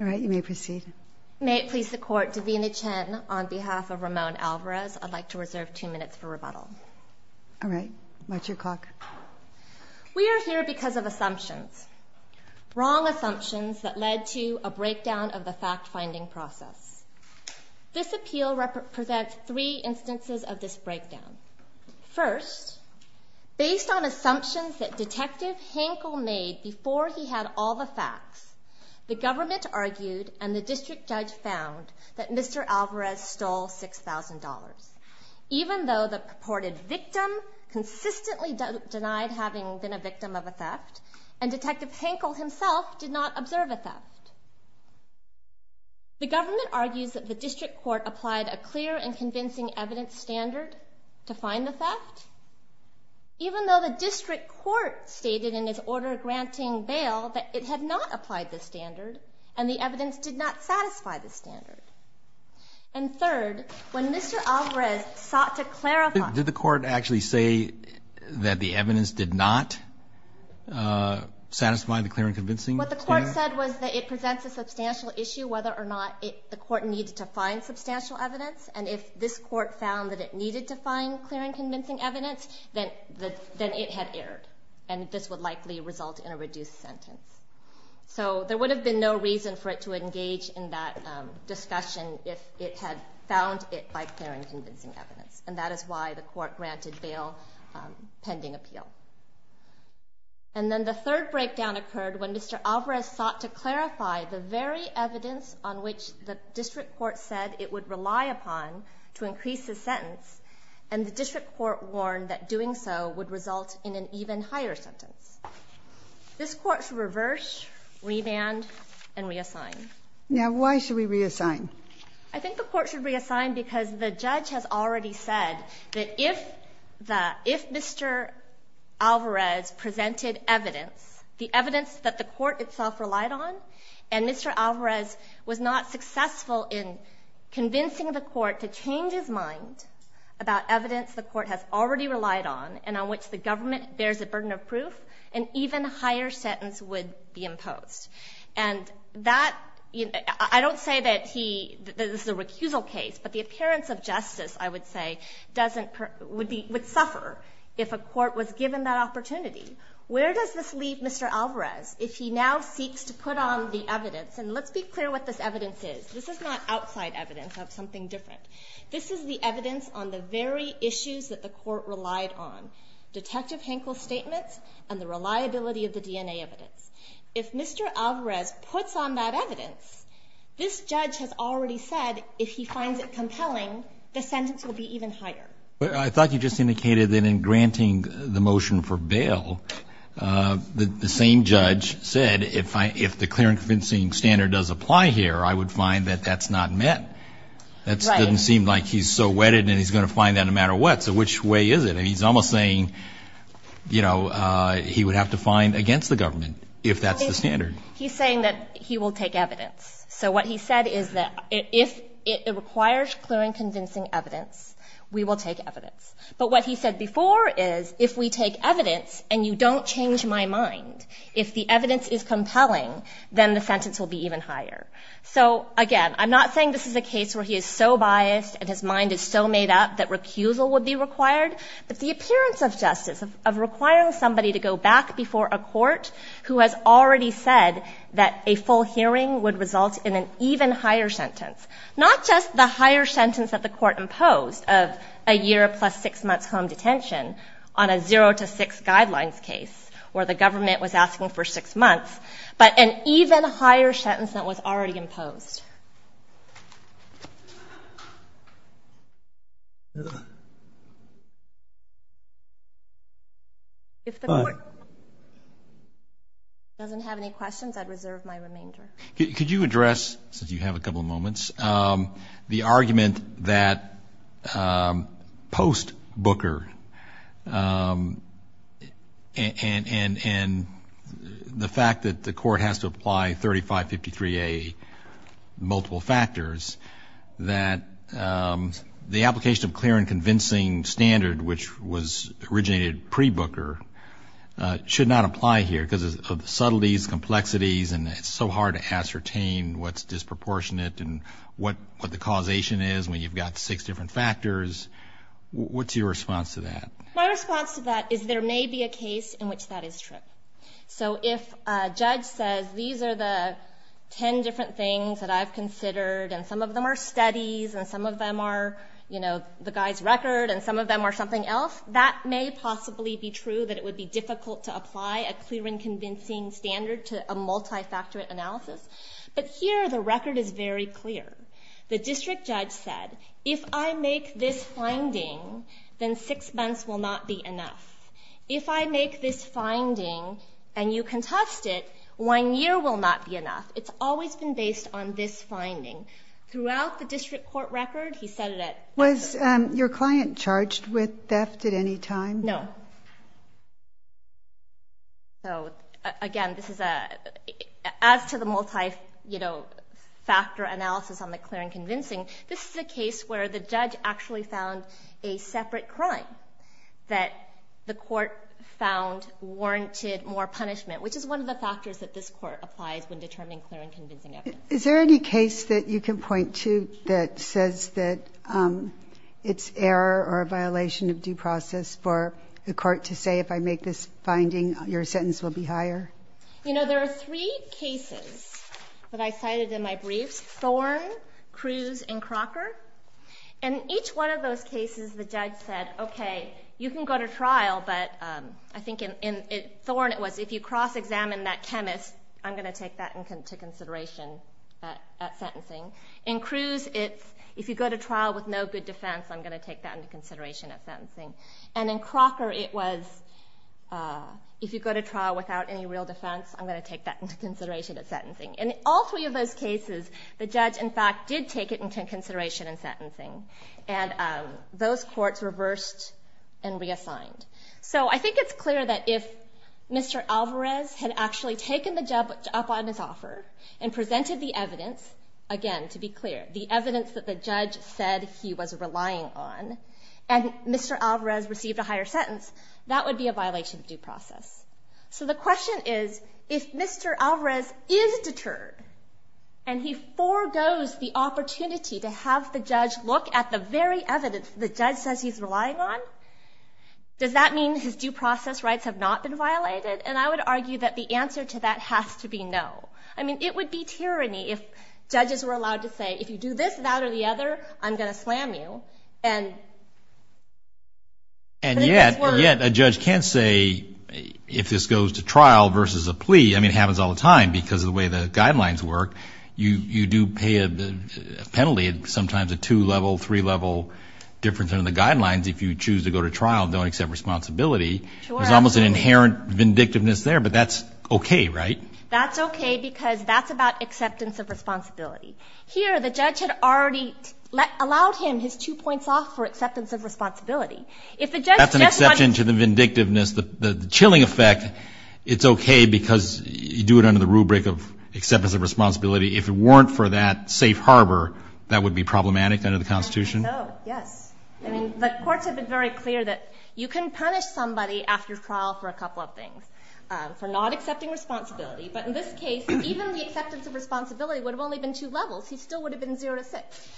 We are here because of assumptions, wrong assumptions that led to a breakdown of the fact-finding process. This appeal presents three instances of this breakdown. First, based on assumptions that Detective Hankel made before he had all the facts, the government argued and the district judge found that Mr. Alvarez stole $6,000, even though the purported victim consistently denied having been a victim of a theft, and Detective Hankel himself did not observe a theft. Second, the government argues that the district court applied a clear and convincing evidence standard to find the theft, even though the district court stated in its order granting bail that it had not applied the standard and the evidence did not satisfy the standard. And third, when Mr. Alvarez sought to clarify... Did the court actually say that the evidence did not satisfy the clear and convincing standard? What the court said was that it presents a substantial issue whether or not the court needed to find substantial evidence, and if this court found that it needed to find clear and convincing evidence, then it had erred, and this would likely result in a reduced sentence. So, there would have been no reason for it to engage in that discussion if it had found it by clear and convincing evidence, and that is why the court granted bail pending appeal. And then the third breakdown occurred when Mr. Alvarez sought to clarify the very evidence on which the district court said it would rely upon to increase the sentence, and the district court warned that doing so would result in an even higher sentence. This court should reverse, remand, and reassign. Now why should we reassign? I think the court should reassign because the judge has already said that if Mr. Alvarez presented evidence, the evidence that the court itself relied on, and Mr. Alvarez was not successful in convincing the court to change his mind about evidence the court has already relied on, and on which the government bears a burden of proof, an even higher sentence would be imposed. And that, I don't say that this is a recusal case, but the appearance of justice, I would say, would suffer if a court was given that opportunity. Where does this leave Mr. Alvarez if he now seeks to put on the evidence, and let's be clear what this evidence is, this is not outside evidence of something different, this is the evidence on the very issues that the court relied on, Detective Henkel's statements and the reliability of the DNA evidence. If Mr. Alvarez puts on that evidence, this judge has already said if he finds it compelling, the sentence will be even higher. I thought you just indicated that in granting the motion for bail, the same judge said if the clear and convincing standard does apply here, I would find that that's not met. That doesn't seem like he's so wedded and he's going to find that no matter what, so which way is it? He's almost saying he would have to find against the government if that's the standard. He's saying that he will take evidence. So what he said is that if it requires clear and convincing evidence, we will take evidence. But what he said before is if we take evidence and you don't change my mind, if the evidence is compelling, then the sentence will be even higher. So again, I'm not saying this is a case where he is so biased and his mind is so made up that recusal would be required, but the appearance of justice, of requiring somebody to go back before a court who has already said that a full hearing would result in an even higher sentence, not just the higher sentence that the court imposed of a year plus six months home detention on a zero to six guidelines case where the government was asking for six months, but an even higher sentence that was already imposed. If the court doesn't have any questions, I'd reserve my remainder. Could you address, since you have a couple of moments, the argument that post Booker and the fact that the court has to apply 3553A multiple factors, that the application of clear and convincing standard, which was originated pre Booker, should not apply here because of the subtleties, complexities, and it's so hard to ascertain what's disproportionate and what the causation is when you've got six different factors. What's your response to that? My response to that is there may be a case in which that is true. So if a judge says these are the ten different things that I've considered and some of them are studies and some of them are the guy's record and some of them are something else, that may possibly be true that it would be difficult to apply a clear and convincing standard to a multifactor analysis, but here the record is very clear. The district judge said, if I make this finding, then six months will not be enough. If I make this finding and you contest it, one year will not be enough. It's always been based on this finding. Throughout the district court record, he said it at... Was your client charged with theft at any time? No. Again, as to the multifactor analysis on the clear and convincing, this is a case where the judge actually found a separate crime that the court found warranted more punishment, which is one of the factors that this court applies when determining clear and convincing evidence. Is there any case that you can point to that says that it's error or a violation of due process for the court to say, if I make this finding, your sentence will be higher? You know, there are three cases that I cited in my briefs, Thorne, Cruz, and Crocker. In each one of those cases, the judge said, okay, you can go to trial, but I think in Thorne, it was if you cross-examine that chemist, I'm going to take that into consideration at sentencing. In Cruz, it's if you go to trial with no good defense, I'm going to take that into consideration at sentencing. And in Crocker, it was if you go to trial without any real defense, I'm going to take that into consideration at sentencing. In all three of those cases, the judge, in fact, did take it into consideration in sentencing, and those courts reversed and reassigned. So I think it's clear that if Mr. Alvarez had actually taken the job up on his offer and presented the evidence, again, to be clear, the evidence that the judge said he was relying on, and Mr. Alvarez received a higher sentence, that would be a violation of due process. So the question is, if Mr. Alvarez is deterred, and he forgoes the opportunity to have the judge look at the very evidence the judge says he's relying on, does that mean his due process rights have not been violated? And I would argue that the answer to that has to be no. I mean, it would be tyranny if judges were allowed to say, if you do this, that, or the other, I'm going to slam you. And yet a judge can't say, if this goes to trial versus a plea, I mean, it happens all the time because of the way the guidelines work. You do pay a penalty, sometimes a two-level, three-level difference under the guidelines if you choose to go to trial and don't accept responsibility. There's almost an inherent vindictiveness there, but that's okay, right? That's okay because that's about acceptance of responsibility. Here, the judge had already allowed him his two points off for acceptance of responsibility. If the judge just wants... That's an exception to the vindictiveness, the chilling effect. It's okay because you do it under the rubric of acceptance of responsibility. If it weren't for that safe harbor, that would be problematic under the Constitution? Oh, yes. I mean, the courts have been very clear that you can punish somebody after trial for a couple of things, for not accepting responsibility. But in this case, even the acceptance of responsibility would have only been two levels. He still would have been zero to six.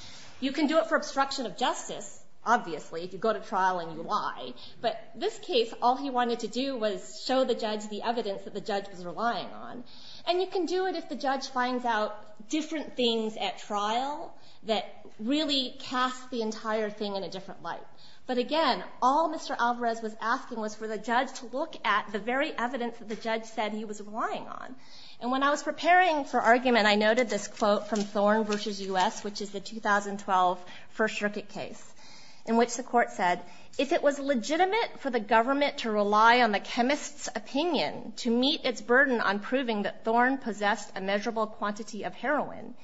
You can do it for obstruction of justice, obviously, if you go to trial and you lie. But this case, all he wanted to do was show the judge the evidence that the judge was relying on. And you can do it if the judge finds out different things at trial that really cast the entire thing in a different light. But again, all Mr. Alvarez was asking was for the judge to look at the very evidence that the judge said he was relying on. And when I was preparing for argument, I noted this quote from Thorn v. U.S., which is the 2012 First Circuit case, in which the court said, If it was legitimate for the government to rely on the chemist's opinion to meet its burden on proving that Thorn possessed a measurable quantity of heroin,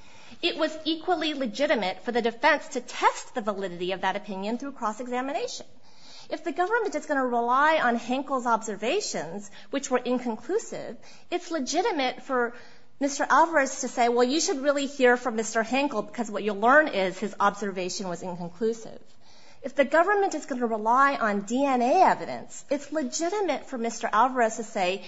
it was equally legitimate for the defense to test the validity of that opinion through cross-examination. If the government is going to rely on Henkel's observations, which were inconclusive, it's legitimate for Mr. Alvarez to say, well, you should really hear from Mr. Henkel because what you'll learn is his observation was inconclusive. If the government is going to rely on DNA evidence, it's legitimate for Mr. Alvarez to say,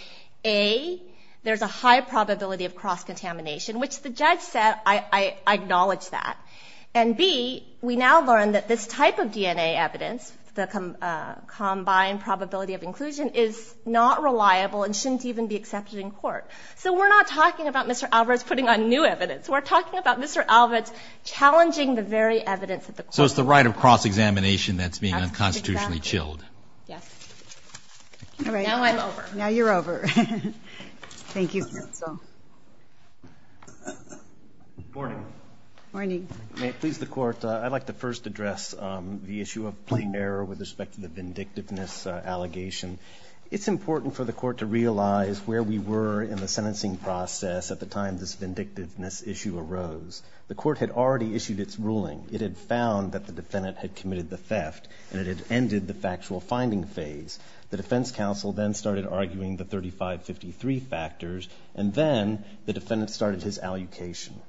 A, there's a high probability of cross-contamination, which the judge said, I acknowledge that. And B, we now learn that this type of DNA evidence, the combined probability of inclusion, is not reliable and shouldn't even be accepted in court. So we're not talking about Mr. Alvarez putting on new evidence. We're talking about Mr. Alvarez challenging the very evidence that the court said. So it's the right of cross-examination that's being unconstitutionally chilled. Yes. All right. Now I'm over. Now you're over. Thank you, counsel. Morning. Morning. May it please the court, I'd like to first address the issue of plain error with respect to the vindictiveness allegation. It's important for the court to realize where we were in the sentencing process at the time this vindictiveness issue arose. The court had already issued its ruling. It had found that the defendant had committed the theft, and it had ended the factual finding phase. The defense counsel then started arguing the 3553 factors, and then the defendant started his allocation.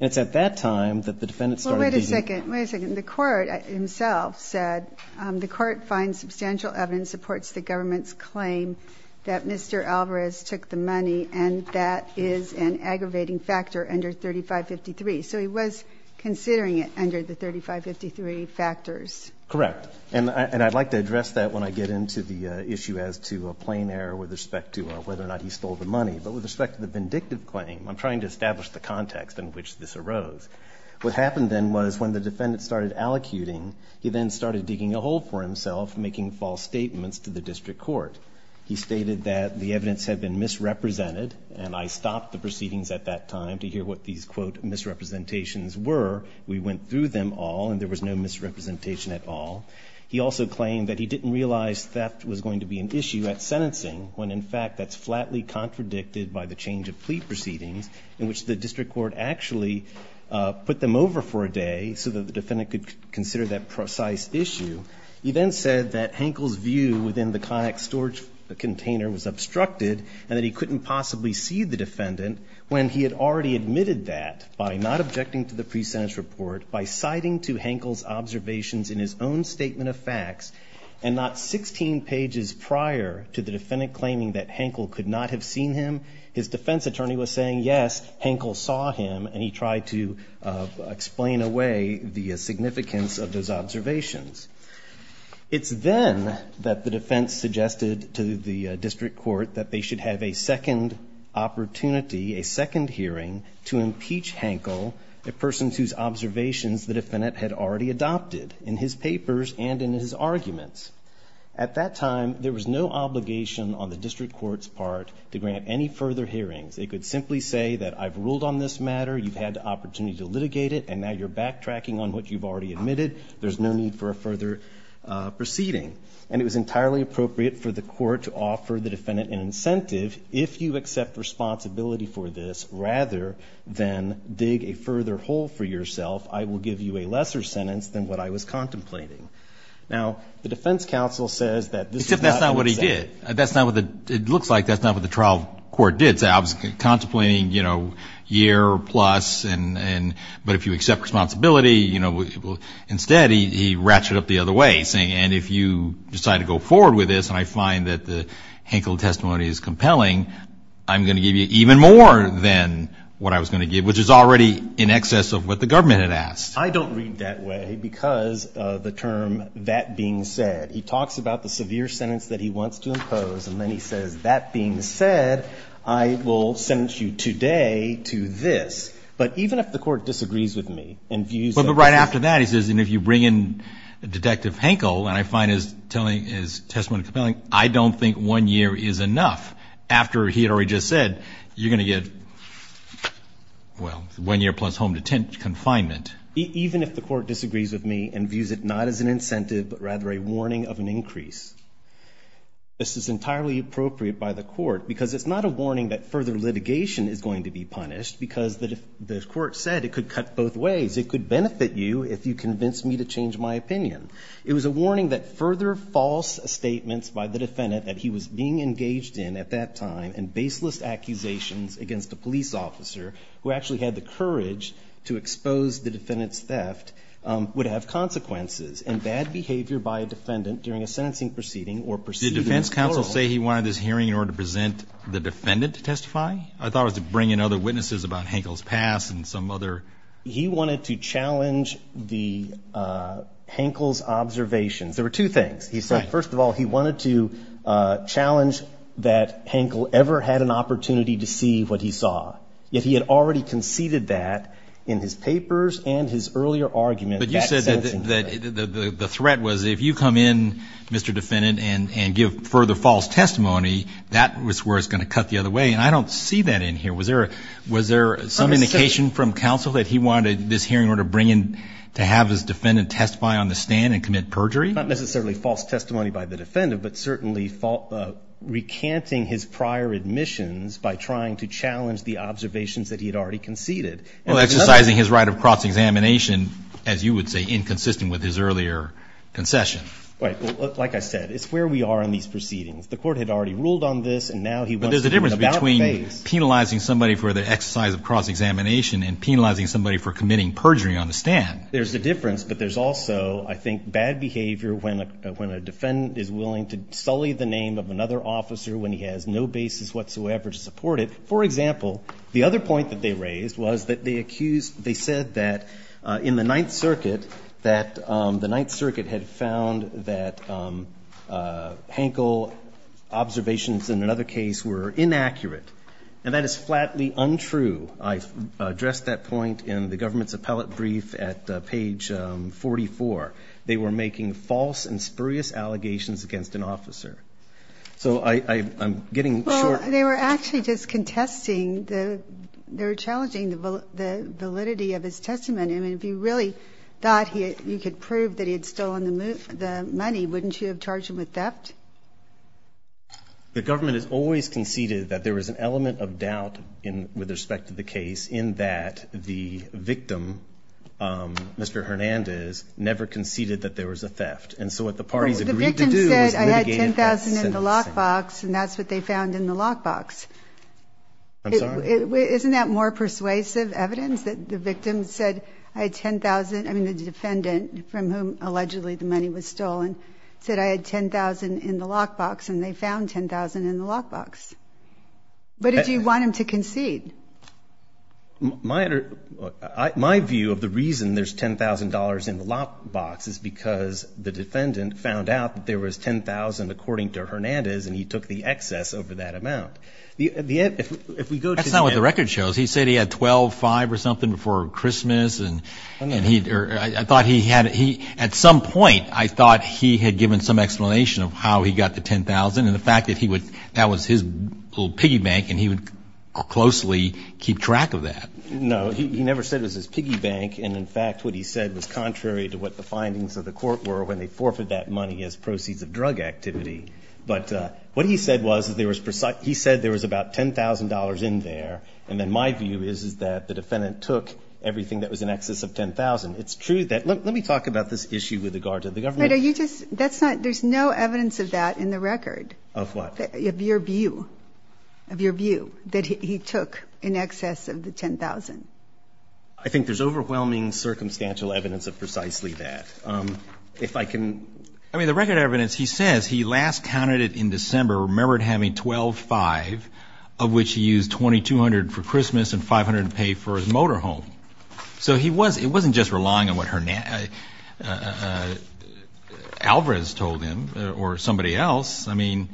And it's at that time that the defendant started deeming Well, wait a second. Wait a second. The court himself said, the court finds substantial evidence supports the government's claim that Mr. Alvarez took the money, and that is an aggravating factor under 3553. So he was considering it under the 3553 factors. Correct. And I'd like to address that when I get into the issue as to a plain error with respect to whether or not he stole the money, but with respect to the vindictive claim, I'm trying to establish the context in which this arose. What happened then was when the defendant started allocuting, he then started digging a hole for himself, making false statements to the district court. He stated that the evidence had been misrepresented, and I stopped the proceedings at that time to hear what these, quote, misrepresentations were. We went through them all, and there was no misrepresentation at all. He also claimed that he didn't realize theft was going to be an issue at sentencing, when in fact, that's flatly contradicted by the change of plea proceedings, in which the district court actually put them over for a day so that the defendant could consider that precise issue. He then said that Hankel's view within the conic storage container was obstructed, and that he couldn't possibly see the defendant when he had already admitted that by not objecting to the pre-sentence report, by citing to Hankel's observations in his own statement of facts, and not 16 pages prior to the defendant claiming that Hankel could not have seen him, his defense attorney was saying, yes, Hankel saw him, and he tried to explain away the significance of those observations. It's then that the defense suggested to the district court that they should have a second opportunity, a second hearing, to impeach Hankel, a person whose observations the defendant had already adopted in his papers and in his arguments. At that time, there was no obligation on the district court's part to grant any further hearings. They could simply say that I've ruled on this matter, you've had the opportunity to litigate it, and now you're backtracking on what you've already admitted, there's no need for a further proceeding. And it was entirely appropriate for the court to offer the defendant an incentive, if you accept responsibility for this, rather than dig a further hole for yourself, I will give you a lesser sentence than what I was contemplating. Now, the defense counsel says that this is not what he said. Except that's not what he did. That's not what the, it looks like that's not what the trial court did, say I was contemplating, you know, year plus, and, but if you accept responsibility, you know, instead he ratcheted up the other way, saying, and if you decide to go forward with this, and I find that the Hankel testimony is compelling, I'm going to give you even more than what I was going to give, which is already in excess of what the government had asked. I don't read that way, because the term, that being said, he talks about the severe sentence that he wants to impose, and then he says, that being said, I will sentence you today to this. But even if the court disagrees with me, and views that this is. But right after that, he says, and if you bring in Detective Hankel, and I find his testimony compelling, I don't think one year is enough. After he had already just said, you're going to get, well, one year plus home detention, confinement. Even if the court disagrees with me, and views it not as an incentive, but rather a warning of an increase. This is entirely appropriate by the court, because it's not a warning that further litigation is going to be punished, because the court said it could cut both ways. It could benefit you if you convince me to change my opinion. It was a warning that further false statements by the defendant that he was being engaged in at that time, and baseless accusations against a police officer, who actually had the courage to expose the defendant's theft, would have consequences, and bad behavior by a defendant during a sentencing proceeding, or proceeding in plural. Did the defense counsel say he wanted this hearing in order to present the defendant to testify? I thought it was to bring in other witnesses about Hankel's past, and some other. He wanted to challenge the, Hankel's observations. There were two things. He said, first of all, he wanted to challenge that Hankel ever had an opportunity to see what he saw. Yet, he had already conceded that in his papers, and his earlier argument. But you said that the threat was, if you come in, Mr. Defendant, and give further false testimony, that was where it's going to cut the other way. And I don't see that in here. Was there some indication from counsel that he wanted this hearing in order to bring in, to have his defendant testify on the stand, and commit perjury? Not necessarily false testimony by the defendant, but certainly recanting his prior admissions by trying to challenge the observations that he had already conceded. Well, exercising his right of cross-examination, as you would say, inconsistent with his earlier concession. Right. Well, like I said, it's where we are in these proceedings. The court had already ruled on this, and now he wants to do an about-face. But there's a difference between penalizing somebody for the exercise of cross-examination, and penalizing somebody for committing perjury on the stand. There's a difference, but there's also, I think, bad behavior when a defendant is willing to sully the name of another officer when he has no basis whatsoever to support it. For example, the other point that they raised was that they accused, they said that in the Ninth Circuit, that the Ninth Circuit had found that Hankel observations in another case were inaccurate. And that is flatly untrue. I addressed that point in the government's appellate brief at page 44. They were making false and spurious allegations against an officer. So I'm getting short. Well, they were actually just contesting, they were challenging the validity of his testimony. I mean, if you really thought you could prove that he had stolen the money, wouldn't you have charged him with theft? The government has always conceded that there was an element of doubt with respect to the case in that the victim, Mr. Hernandez, never conceded that there was a theft. And so what the parties agreed to do was mitigate that sentencing. Well, the victim said, I had $10,000 in the lockbox, and that's what they found in the lockbox. I'm sorry? Isn't that more persuasive evidence that the victim said, I had $10,000, I mean, the defendant from whom allegedly the money was stolen, said, I had $10,000 in the lockbox, and they found $10,000 in the lockbox. But did you want him to concede? My view of the reason there's $10,000 in the lockbox is because the defendant found out that there was $10,000, according to Hernandez, and he took the excess over that amount. That's not what the record shows. He said he had $12,500 or something before Christmas, and I thought he had, at some point, I thought he had given some explanation of how he got the $10,000, and the fact that he would, that was his little piggy bank, and he would closely keep track of that. No, he never said it was his piggy bank, and in fact, what he said was contrary to what the findings of the court were when they forfeited that money as proceeds of drug activity. But what he said was, he said there was about $10,000 in there, and then my view is that the defendant took everything that was in excess of $10,000. It's true that, let me talk about this issue with regard to the government. But are you just, that's not, there's no evidence of that in the record. Of what? Of your view, of your view, that he took in excess of the $10,000. I think there's overwhelming circumstantial evidence of precisely that. If I can... I mean, the record evidence, he says he last counted it in December, remembered having $12,500, of which he used $2,200 for Christmas and $500 to pay for his motorhome. So he was, it wasn't just relying on what Hernandez, Alvarez told him, or somebody else. I mean,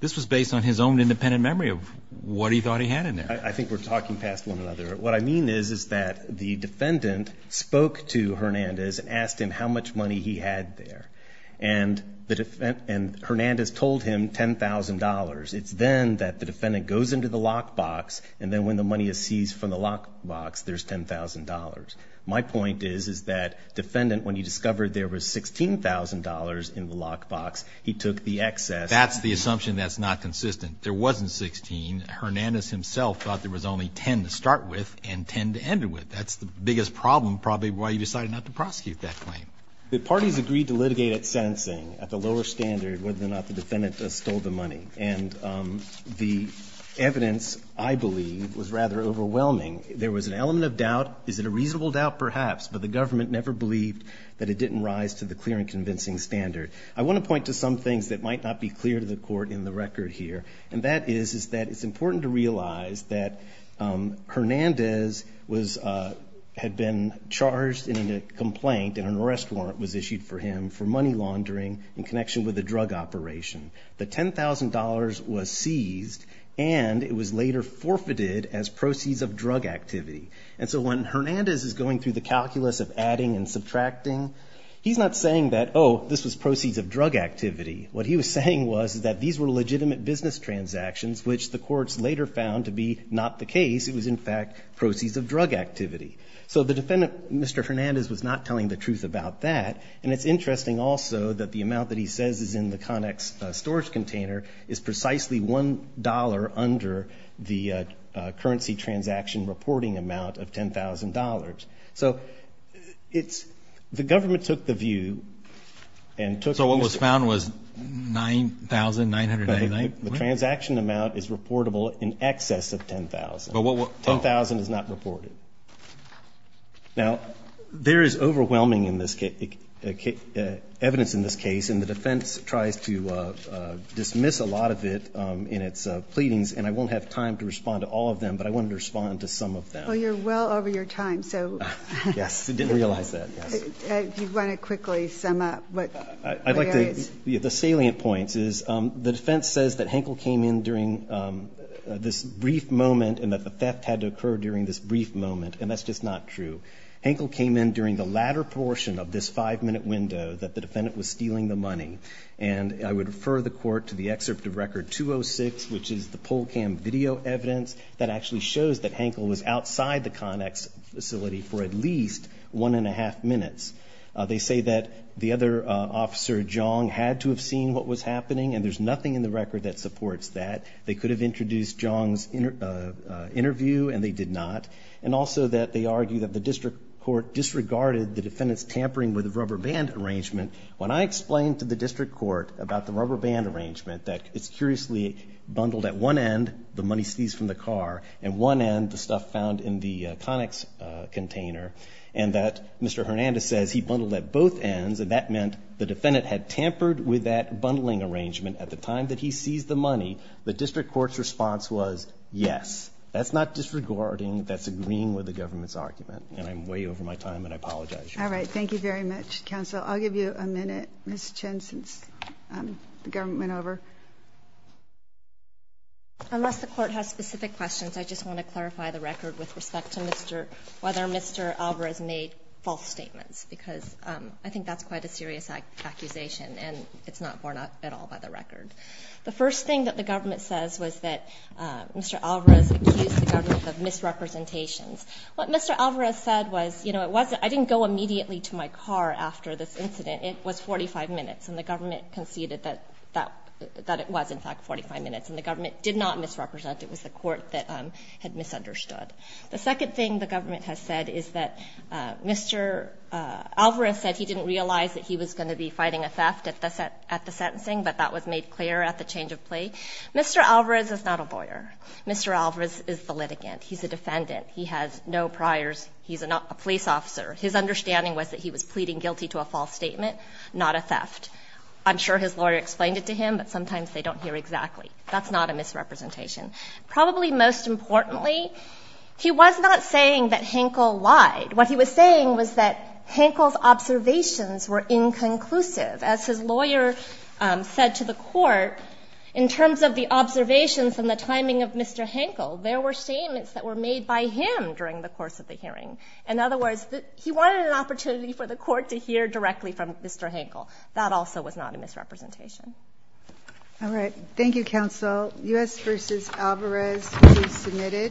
this was based on his own independent memory of what he thought he had in there. I think we're talking past one another. What I mean is, is that the defendant spoke to Hernandez and asked him how much money he had there. And the, and Hernandez told him $10,000. It's then that the defendant goes into the lockbox, and then when the money is seized from the lockbox, there's $10,000. My point is, is that defendant, when he discovered there was $16,000 in the lockbox, he took the excess. That's the assumption that's not consistent. There wasn't $16,000. Hernandez himself thought there was only $10,000 to start with and $10,000 to end it with. That's the biggest problem, probably, why he decided not to prosecute that claim. The parties agreed to litigate at sentencing, at the lower standard, whether or not the defendant stole the money. And the evidence, I believe, was rather overwhelming. There was an element of doubt. Is it a reasonable doubt? Perhaps. But the government never believed that it didn't rise to the clear and convincing standard. I want to point to some things that might not be clear to the Court in the record here. And that is, is that it's important to realize that Hernandez was, had been charged in a complaint, and an arrest warrant was issued for him for money laundering in connection with a drug operation. The $10,000 was seized, and it was later forfeited as proceeds of drug activity. And so when Hernandez is going through the calculus of adding and subtracting, he's not saying that, oh, this was proceeds of drug activity. What he was saying was that these were legitimate business transactions, which the courts later found to be not the case. It was, in fact, proceeds of drug activity. So the defendant, Mr. Hernandez, was not telling the truth about that. And it's interesting also that the amount that he says is in the Conex storage container is precisely $1 under the currency transaction reporting amount of $10,000. So it's, the government took the view and took. So what was found was $9,999. The transaction amount is reportable in excess of $10,000. $10,000 is not reported. Now, there is overwhelming evidence in this case, and the defense tries to dismiss a lot of it in its pleadings. And I won't have time to respond to all of them, but I wanted to respond to some of them. Well, you're well over your time, so. Yes, I didn't realize that, yes. If you want to quickly sum up what there is. I'd like to, the salient points is the defense says that Henkel came in during this brief moment and that the theft had to occur during this brief moment, and that's just not true. Henkel came in during the latter portion of this five-minute window that the defendant was stealing the money. And I would refer the court to the excerpt of Record 206, which is the PolCam video evidence, that actually shows that Henkel was outside the Conex facility for at least one and a half minutes. They say that the other officer, Jong, had to have seen what was happening, and there's nothing in the record that supports that. They could have introduced Jong's interview, and they did not. And also that they argue that the district court disregarded the defendant's tampering with a rubber band arrangement. When I explained to the district court about the rubber band arrangement, that it's curiously bundled at one end, the money seized from the car, and one end, the stuff found in the Conex container, and that Mr. Hernandez says he bundled at both ends, and that meant the defendant had tampered with that bundling arrangement at the time that he seized the money. The district court's response was yes. That's not disregarding. That's agreeing with the government's argument. And I'm way over my time, and I apologize. All right. Thank you very much, counsel. I'll give you a minute, Ms. Chen, since the government went over. Unless the court has specific questions, I just want to clarify the record with respect to whether Mr. Alvarez made false statements, because I think that's quite a serious accusation, and it's not borne out at all by the record. The first thing that the government says was that Mr. Alvarez accused the government of misrepresentations. What Mr. Alvarez said was, you know, it wasn't, I didn't go immediately to my car after this incident. It was 45 minutes, and the government conceded that it was, in fact, 45 minutes, and the government did not misrepresent. It was the court that had misunderstood. The second thing the government has said is that Mr. Alvarez said he didn't realize that he was going to be fighting a theft at the sentencing, but that was made clear at the change of plea. Mr. Alvarez is not a lawyer. Mr. Alvarez is the litigant. He's a defendant. He has no priors. He's a police officer. His understanding was that he was pleading guilty to a false statement, not a theft. I'm sure his lawyer explained it to him, but sometimes they don't hear exactly. That's not a misrepresentation. Probably most importantly, he was not saying that Hankel lied. What he was saying was that Hankel's observations were inconclusive. As his lawyer said to the court, in terms of the observations and the timing of Mr. Hankel, there were statements that were made by him during the course of the hearing. In other words, he wanted an opportunity for the court to hear directly from Mr. Hankel. That also was not a misrepresentation. All right. Thank you, counsel. U.S. v. Alvarez, please submit it.